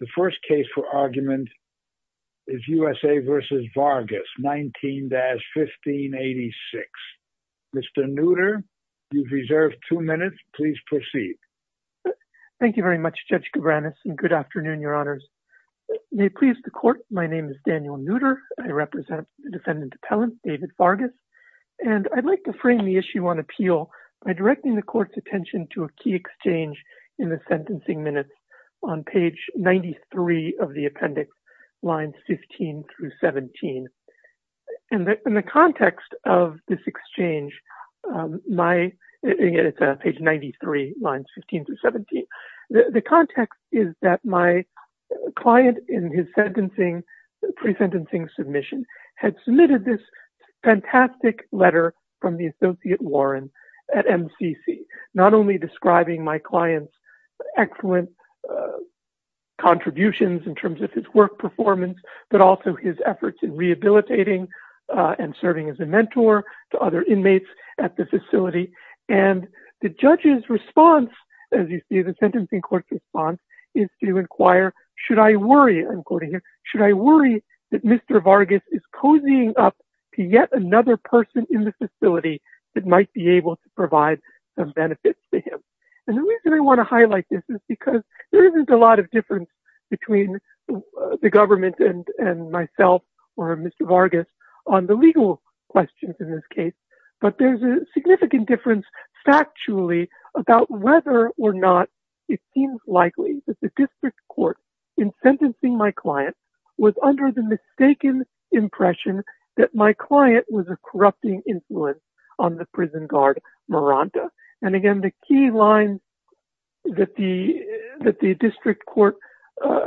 The first case for argument is USA v. Vargas, 19-1586. Mr. Nooter, you've reserved two minutes. Please proceed. Thank you very much, Judge Cabranes, and good afternoon, Your Honors. May it please the Court, my name is Daniel Nooter. I represent the defendant appellant, David Vargas, and I'd like to frame the issue on appeal by directing the Court's attention to a key exchange in the sentencing minutes on page 93 of the appendix, lines 15-17. In the context of this exchange, my – again, it's page 93, lines 15-17. The context is that my client in his sentencing – pre-sentencing submission had submitted this fantastic letter from the Associate Warren at MCC, not only describing my client's excellent contributions in terms of his work performance, but also his efforts in rehabilitating and serving as a mentor to other inmates at the facility. And the judge's response, as you see, the sentencing court's response, is to inquire, should I worry – I'm quoting here – should I worry that Mr. Vargas is cozying up to yet another person in the facility that might be able to provide some benefits to him? And the reason I want to highlight this is because there isn't a lot of difference between the government and myself or Mr. Vargas on the legal questions in this case, but there's a significant difference factually about whether or not it seems likely that the district court in sentencing my client was under the mistaken impression that my client was a corrupting influence on the prison guard Miranda. And again, the key lines that the district court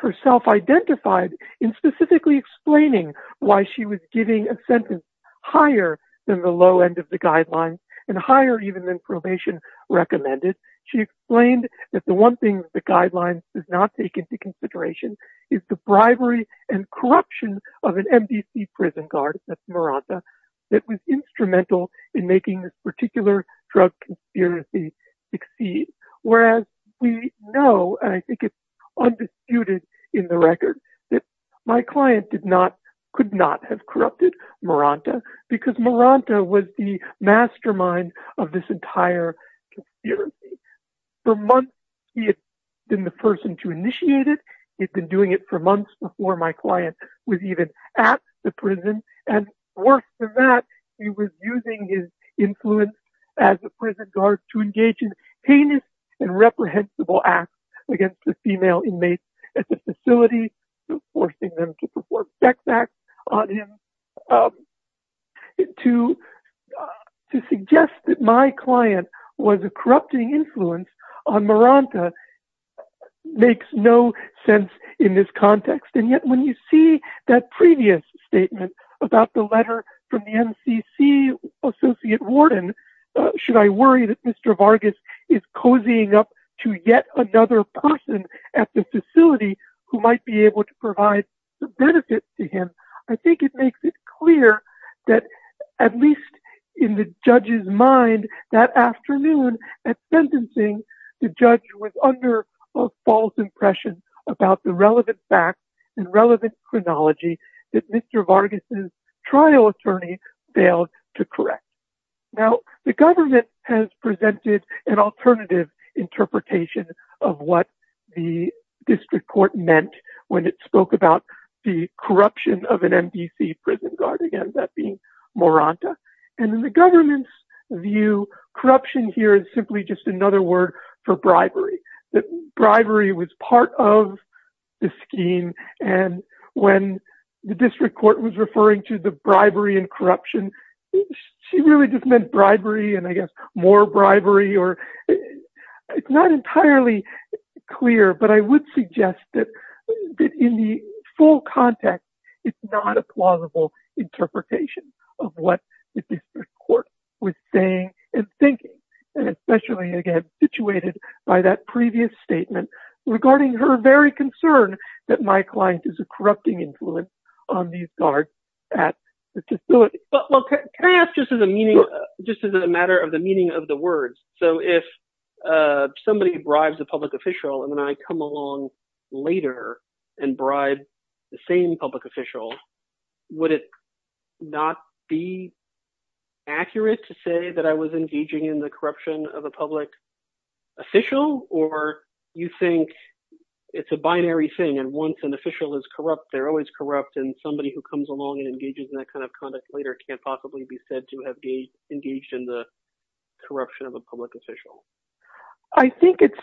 herself identified in specifically explaining why she was giving a sentence higher than the low end of the guidelines and higher even than probation recommended, she explained that the one thing the guidelines does not take into consideration is the bribery and corruption of an MDC prison guard, that's Miranda, that was instrumental in making this particular drug conspiracy succeed. Whereas we know, and I think it's undisputed in the record, that my client did not, could not have corrupted Miranda because Miranda was the mastermind of this entire conspiracy. For months, he had been the person to initiate it. He had been doing it for months before my client was even at the prison. And worse than that, he was using his influence as a prison guard to engage in heinous and reprehensible acts against the female inmates at the facility, forcing them to commit crimes. And yet, when you see that previous statement about the letter from the MCC associate warden, should I worry that Mr. Vargas is cozying up to yet another person at the facility who might be able to provide the benefits to him, I think it makes it clear that at least in the judge's mind, that afternoon at sentencing, the judge was under a false impression about the relevant facts and relevant chronology that Mr. Vargas' trial attorney failed to correct. Now, the government has presented an alternative interpretation of what the district court meant when it spoke about the corruption of an MDC guard, again, that being Moranta. And in the government's view, corruption here is simply just another word for bribery, that bribery was part of the scheme. And when the district court was referring to the bribery and corruption, she really just meant bribery, and I guess, more bribery. It's not entirely clear, but I would suggest that in the full context, it's not a plausible interpretation of what the district court was saying and thinking, and especially again, situated by that previous statement regarding her very concern that my client is a corrupting influence on these guards at the facility. But well, can I ask just as a matter of the meaning of the words, so if somebody bribes a public official, and then I come along later and bribe the same public official, would it not be accurate to say that I was engaging in the corruption of a public official? Or you think it's a binary thing, and once an official is corrupt, they're always corrupt, and somebody who comes along and engages in that kind of conduct later can't possibly be engaged in the corruption of a public official. I think it's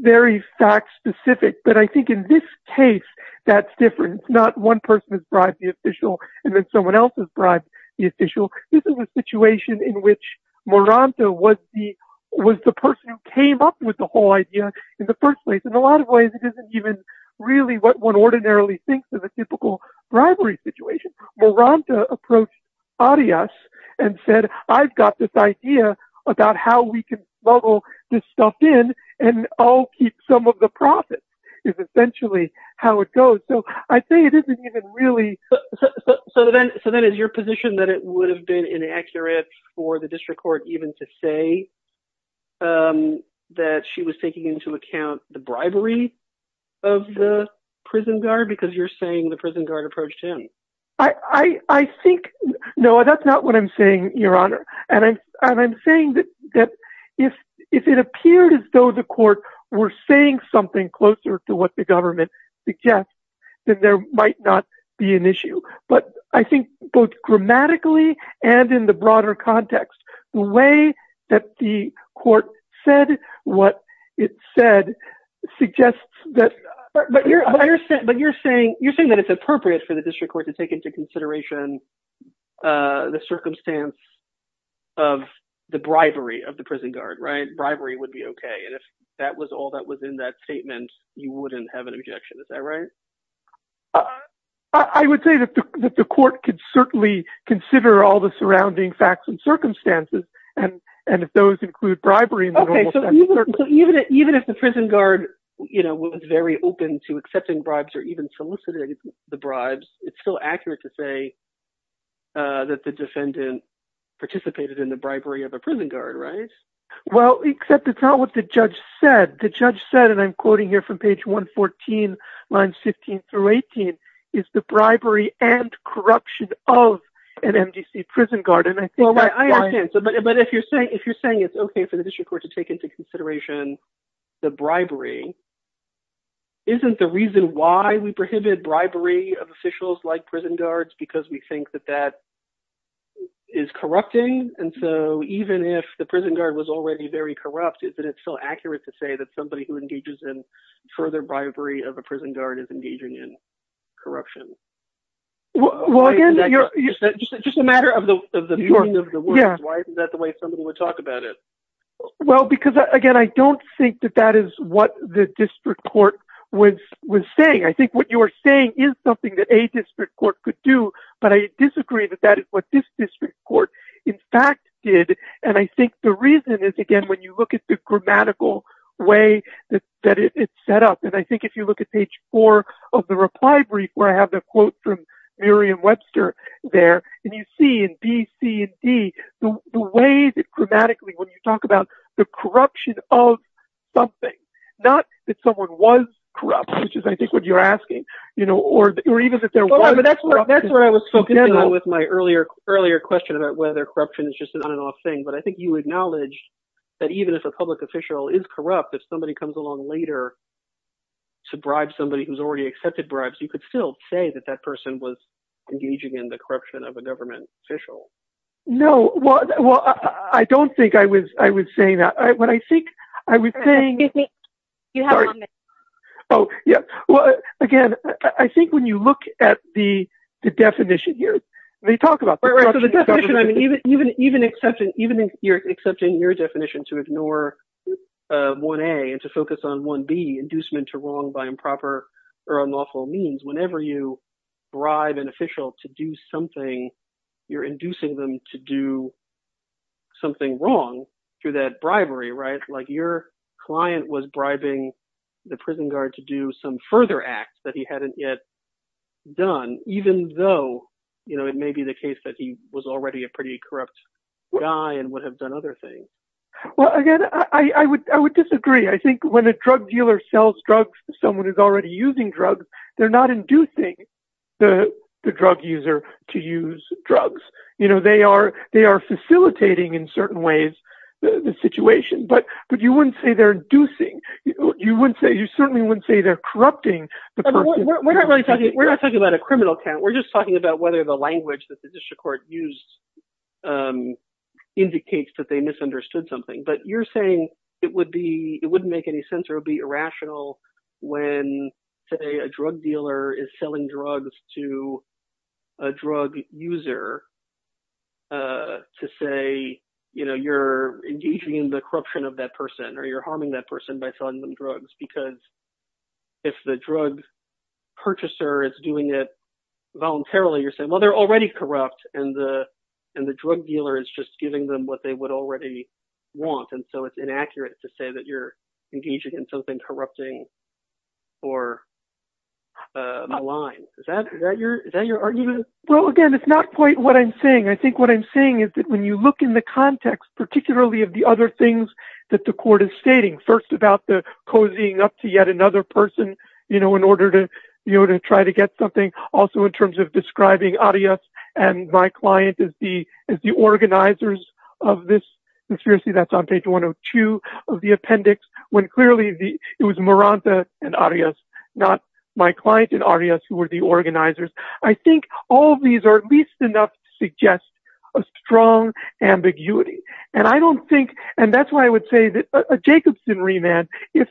very fact-specific, but I think in this case, that's different. It's not one person has bribed the official, and then someone else has bribed the official. This is a situation in which Moranta was the person who came up with the whole idea in the first place. In a lot of ways, it isn't even really what one ordinarily thinks of a typical bribery situation. Moranta approached Arias and said, I've got this idea about how we can bubble this stuff in, and I'll keep some of the profits, is essentially how it goes. So I think it isn't even really... So then is your position that it would have been inaccurate for the district court even to say that she was taking into account the bribery of the prison guard, because you're saying the No, that's not what I'm saying, Your Honor. I'm saying that if it appeared as though the court were saying something closer to what the government suggests, then there might not be an issue. But I think both grammatically and in the broader context, the way that the court said what it said suggests that... But you're saying that it's appropriate for the district court to take into consideration the circumstance of the bribery of the prison guard, right? Bribery would be okay. And if that was all that was in that statement, you wouldn't have an objection. Is that right? I would say that the court could certainly consider all the surrounding facts and circumstances. And if those include bribery... Okay. So even if the prison guard was very open to accepting bribes or even soliciting the bribes, it's still accurate to say that the defendant participated in the bribery of a prison guard, right? Well, except it's not what the judge said. The judge said, and I'm quoting here from page 114, lines 15 through 18, is the bribery and corruption of an MDC prison guard. And I think that's why... Well, I understand. But if you're saying it's okay for the district court to take into consideration the bribery, isn't the reason why we prohibit bribery of officials like prison guards because we think that that is corrupting? And so even if the prison guard was already very corrupt, isn't it still accurate to say that somebody who engages in further bribery of a prison guard is engaging in corruption? Well, again, you're... Just a matter of the meaning of the words. Why isn't that the way somebody would talk about it? Well, because again, I don't think that that is what the district court is saying. I think what you are saying is something that a district court could do, but I disagree that that is what this district court, in fact, did. And I think the reason is, again, when you look at the grammatical way that it's set up. And I think if you look at page four of the reply brief where I have the quote from Miriam Webster there, and you see in B, C, and D, the way that grammatically when you talk about the corruption of something, not that someone was corrupt, which is, I think, what you're asking, or even if they're... Hold on, but that's what I was focusing on with my earlier question about whether corruption is just an on and off thing. But I think you acknowledged that even if a public official is corrupt, if somebody comes along later to bribe somebody who's already accepted bribes, you could still say that that person was engaging in the corruption of a government official. No. Well, I don't think I was saying that. What I think I was saying... Yeah. Well, again, I think when you look at the definition here, when you talk about... Right, right. So the definition, I mean, even accepting your definition to ignore 1A and to focus on 1B, inducement to wrong by improper or unlawful means, whenever you bribe an official to do something, you're inducing them to do something wrong through that bribery, like your client was bribing the prison guard to do some further act that he hadn't yet done, even though it may be the case that he was already a pretty corrupt guy and would have done other things. Well, again, I would disagree. I think when a drug dealer sells drugs to someone who's already using drugs, they're not inducing the drug user to use drugs. They are facilitating, in certain ways, the situation. But you wouldn't say they're inducing. You certainly wouldn't say they're corrupting. We're not talking about a criminal count. We're just talking about whether the language that the district court used indicates that they misunderstood something. But you're saying it wouldn't make any sense or it would be irrational when, say, a drug dealer is selling drugs to a drug user to say you're engaging in the corruption of that person or you're harming that person by selling them drugs. Because if the drug purchaser is doing it voluntarily, you're saying, well, they're already corrupt and the drug dealer is just giving them what they would already want. And so it's inaccurate to say that you're engaging in something corrupting or malign. Is that your argument? Well, again, it's not quite what I'm saying. I think what I'm saying is that when you look in the context, particularly of the other things that the court is stating, first about the cozying up to yet another person in order to try to get something, also in terms of describing Arias and my client as the organizers of this conspiracy that's on page 102 of the appendix, when clearly it was Maranta and Arias, not my client and Arias, who were the organizers. I think all of these are at least enough to suggest a strong ambiguity. And I don't think, and that's why I would say that a Jacobson remand is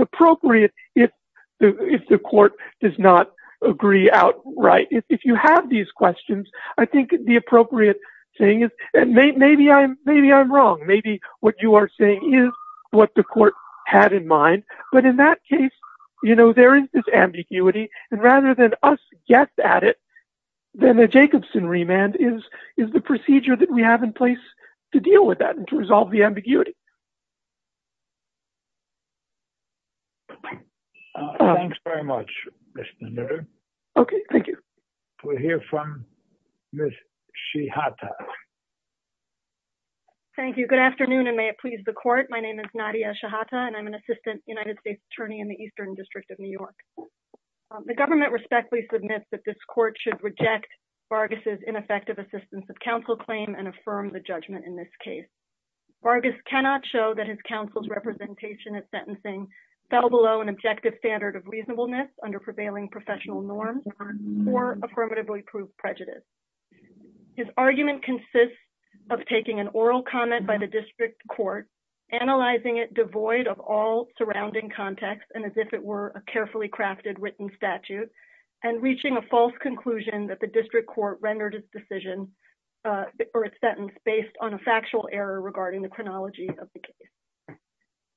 appropriate if the court does not agree outright. If you have these questions, I think the appropriate thing is that maybe I'm wrong. Maybe what you are saying is what the court had in mind. But in that case, there is this ambiguity. And rather than us guess at it, then a Jacobson remand is the procedure that we have in place to deal with that and to resolve the ambiguity. Thanks very much, Mr. Nutter. Okay. Thank you. We'll hear from Ms. Shihata. Thank you. Good afternoon and may it please the court. My name is Nadia Shihata and I'm an assistant United States attorney in the Eastern District of New York. The government respectfully submits that this court should reject Vargas' ineffective assistance of counsel claim and affirm the judgment in this case. Vargas cannot show that his counsel's representation at sentencing fell below an objective standard of reasonableness under prevailing professional norms or affirmatively proved prejudice. His argument consists of taking an oral comment by the district court, analyzing it devoid of all surrounding context and as if it were a carefully crafted written statute and reaching a false conclusion that the district court rendered its decision or its sentence based on a factual error regarding the chronology of the case.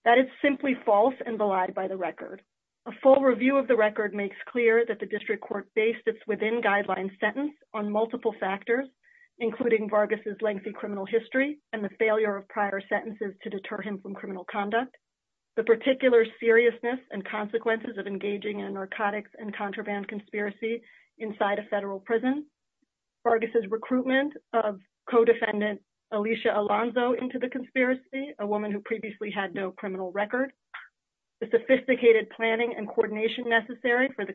That is simply false and belied by the record. A full review of the record makes clear that the case sits within guideline sentence on multiple factors, including Vargas' lengthy criminal history and the failure of prior sentences to deter him from criminal conduct, the particular seriousness and consequences of engaging in a narcotics and contraband conspiracy inside a federal prison, Vargas' recruitment of co-defendant Alicia Alonzo into the conspiracy, a woman who previously had no criminal record, the sophisticated planning and coordination necessary for the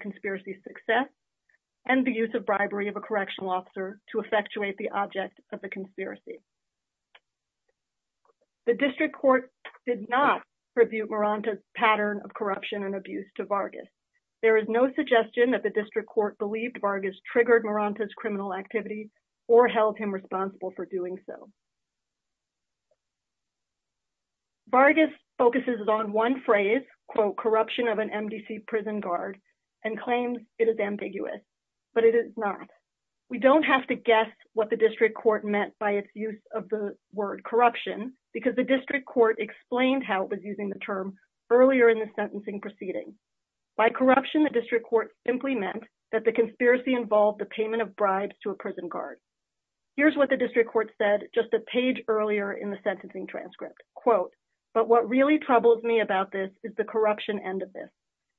and the use of bribery of a correctional officer to effectuate the object of the conspiracy. The district court did not purview Muranta's pattern of corruption and abuse to Vargas. There is no suggestion that the district court believed Vargas triggered Muranta's criminal activity or held him responsible for doing so. Vargas focuses on one phrase, corruption of an MDC prison guard, and claims it is ambiguous, but it is not. We don't have to guess what the district court meant by its use of the word corruption because the district court explained how it was using the term earlier in the sentencing proceeding. By corruption, the district court simply meant that the conspiracy involved the payment of bribes to a prison guard. Here's what the district court said just a page earlier in the sentencing transcript, quote, but what really troubles me about this is the corruption end of this.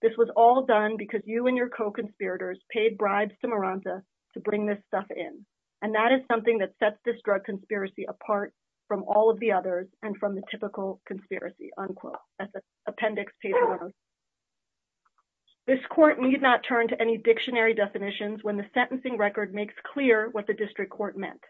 This was all done because you and your co-conspirators paid bribes to Muranta to bring this stuff in, and that is something that sets this drug conspiracy apart from all of the others and from the typical conspiracy, unquote. That's an appendix page. This court need not turn to any dictionary definitions when the sentencing record makes clear what the district court meant.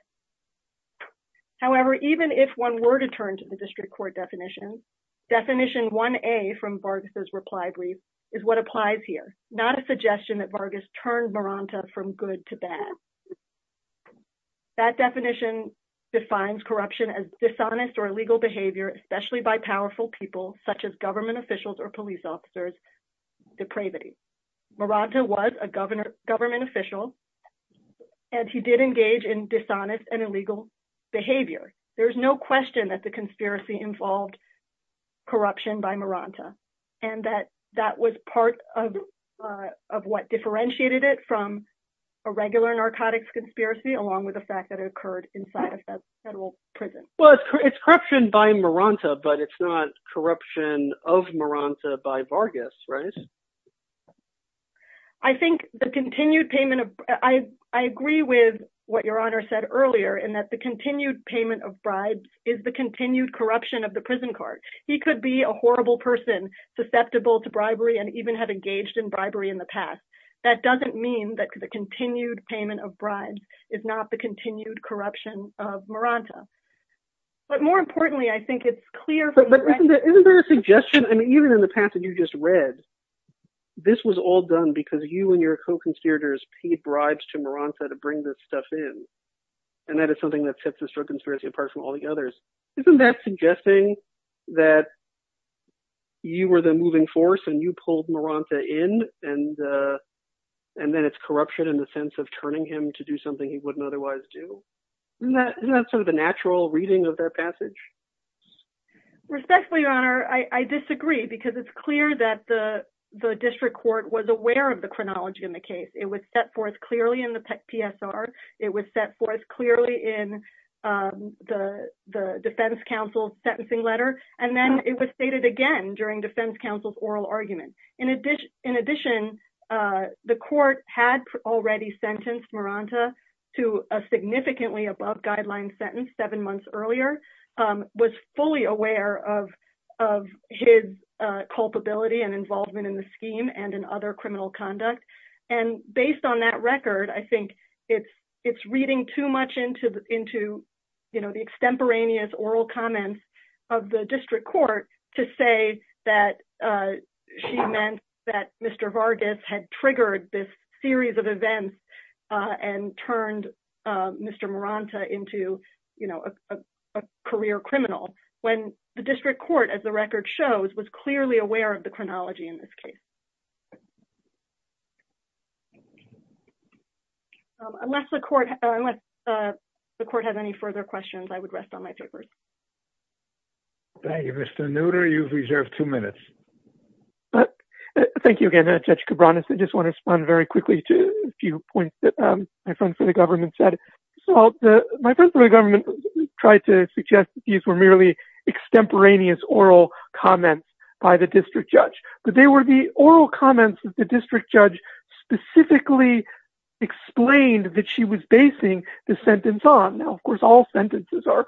However, even if one were to turn to the district court definition, definition 1A from Vargas's reply brief is what applies here, not a suggestion that Vargas turned Muranta from good to bad. That definition defines corruption as dishonest or illegal behavior, especially by powerful people, such as government officials or police officers, depravity. Muranta was a government official, and he did engage in dishonest and illegal behavior. There's no question that the conspiracy involved corruption by Muranta, and that that was part of what differentiated it from a regular narcotics conspiracy along with the fact that it occurred inside a federal prison. Well, it's corruption by Muranta, but it's not corruption of Muranta by Vargas, right? I think the continued payment of... I agree with what your honor said earlier in that the continued payment of bribes is the continued corruption of the prison card. He could be a horrible person susceptible to bribery and even have engaged in bribery in the past. That doesn't mean that the continued payment of bribes is not the continued corruption of Muranta. But more importantly, I think it's clear... But isn't there a suggestion? I mean, even in the passage you just read, this was all done because you and your co-conspirators paid bribes to Muranta to bring this stuff in, and that is something that sets this drug conspiracy apart from all the others. Isn't that suggesting that you were the moving force and you pulled Muranta in, and then it's corruption in the sense of turning him to do something he wouldn't otherwise do? Isn't that sort of the natural reading of their passage? Respectfully, your honor, I disagree because it's clear that the district court was aware of the chronology in the case. It was set forth clearly in the PSR. It was set forth clearly in the defense counsel's sentencing letter. And then it was stated again during defense counsel's oral argument. In addition, the court had already sentenced Muranta to a significantly above guideline sentence seven months earlier, was fully aware of his culpability and involvement in the scheme and in other criminal conduct. And based on that record, I think it's reading too much into the extemporaneous oral comments of the district court to say that she meant that Mr. Vargas had triggered this and turned Mr. Muranta into a career criminal when the district court, as the record shows, was clearly aware of the chronology in this case. Unless the court has any further questions, I would rest on my tickers. Thank you, Mr. Nooter. You've reserved two minutes. But thank you again, Judge Cabranes. I just want to respond very quickly to a few points that my friend for the government said. So my friend for the government tried to suggest these were merely extemporaneous oral comments by the district judge. But they were the oral comments that the district judge specifically explained that she was basing the sentence on. Now, of course, all sentences are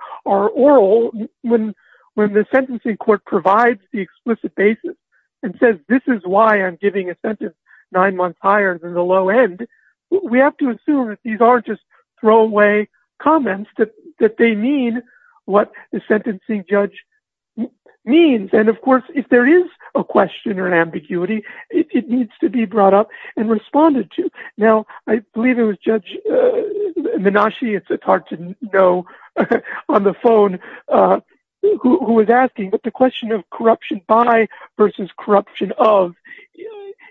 and says, this is why I'm giving a sentence nine months higher than the low end. We have to assume that these are just throwaway comments, that they mean what the sentencing judge means. And of course, if there is a question or an ambiguity, it needs to be brought up and responded to. Now, I believe it was Judge Menashe, it's hard to know on the phone, who was asking, but the question of corruption by versus corruption of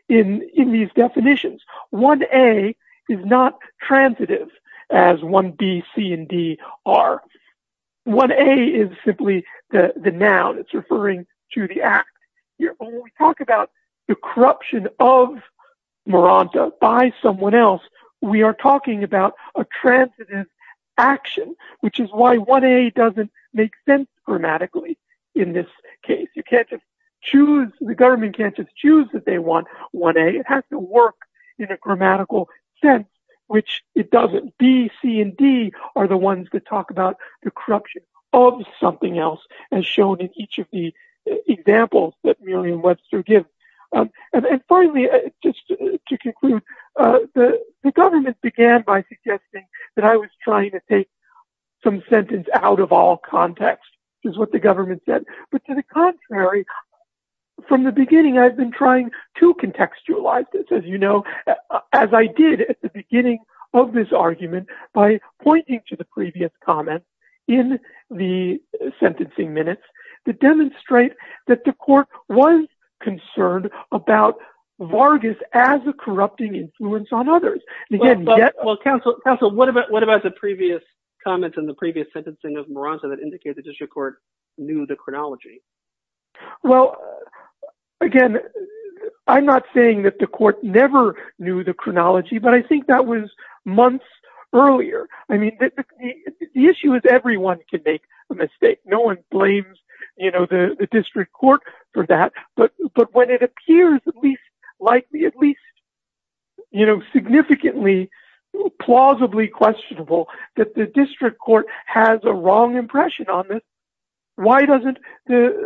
in these definitions, 1A is not transitive as 1B, C, and D are. 1A is simply the noun, it's referring to the act. When we talk about the corruption of Maranta by someone else, we are talking about a transitive action, which is why 1A doesn't make sense grammatically. In this case, you can't just choose, the government can't just choose that they want 1A, it has to work in a grammatical sense, which it doesn't. B, C, and D are the ones that talk about the corruption of something else, as shown in each of the examples that Miriam Webster gives. And finally, just to conclude, the government began by suggesting that I was trying to take some sentence out of all context, which is what the government said. But to the contrary, from the beginning, I've been trying to contextualize this, as you know, as I did at the beginning of this argument, by pointing to the previous comments in the sentencing minutes that demonstrate that the court was concerned about Vargas as a corrupting influence on others. Well, counsel, what about the previous comments in the previous sentencing of Maranta that indicates the district court knew the chronology? Well, again, I'm not saying that the court never knew the chronology, but I think that was months earlier. I mean, the issue is everyone can make a mistake. No one blames the district court for that. But when it appears at least likely, at least significantly, plausibly questionable that the district court has a wrong impression on this, why doesn't the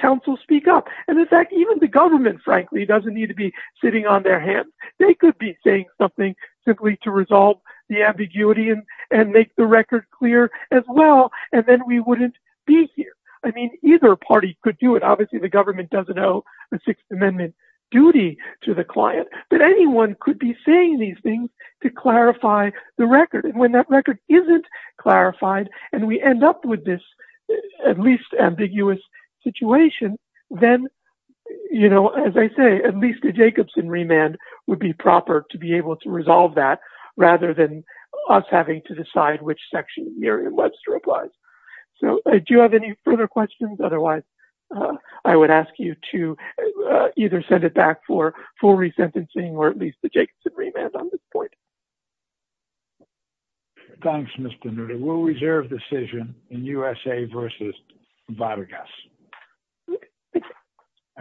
counsel speak up? And in fact, even the government, frankly, doesn't need to be sitting on their hands. They could be saying something simply to resolve the ambiguity and make the record clear as well, and then we wouldn't be here. I mean, either party could do it. Obviously, the government doesn't owe the Sixth Amendment duty to the client, but anyone could be saying these things to clarify the record. And when that record isn't clarified, and we end up with this at least ambiguous situation, then, you know, as I say, at least a Jacobson remand would be proper to be applied. So do you have any further questions? Otherwise, I would ask you to either send it back for full resentencing, or at least the Jacobson remand on this point. Thanks, Mr. Noodle. We'll reserve decision in USA versus Vargas.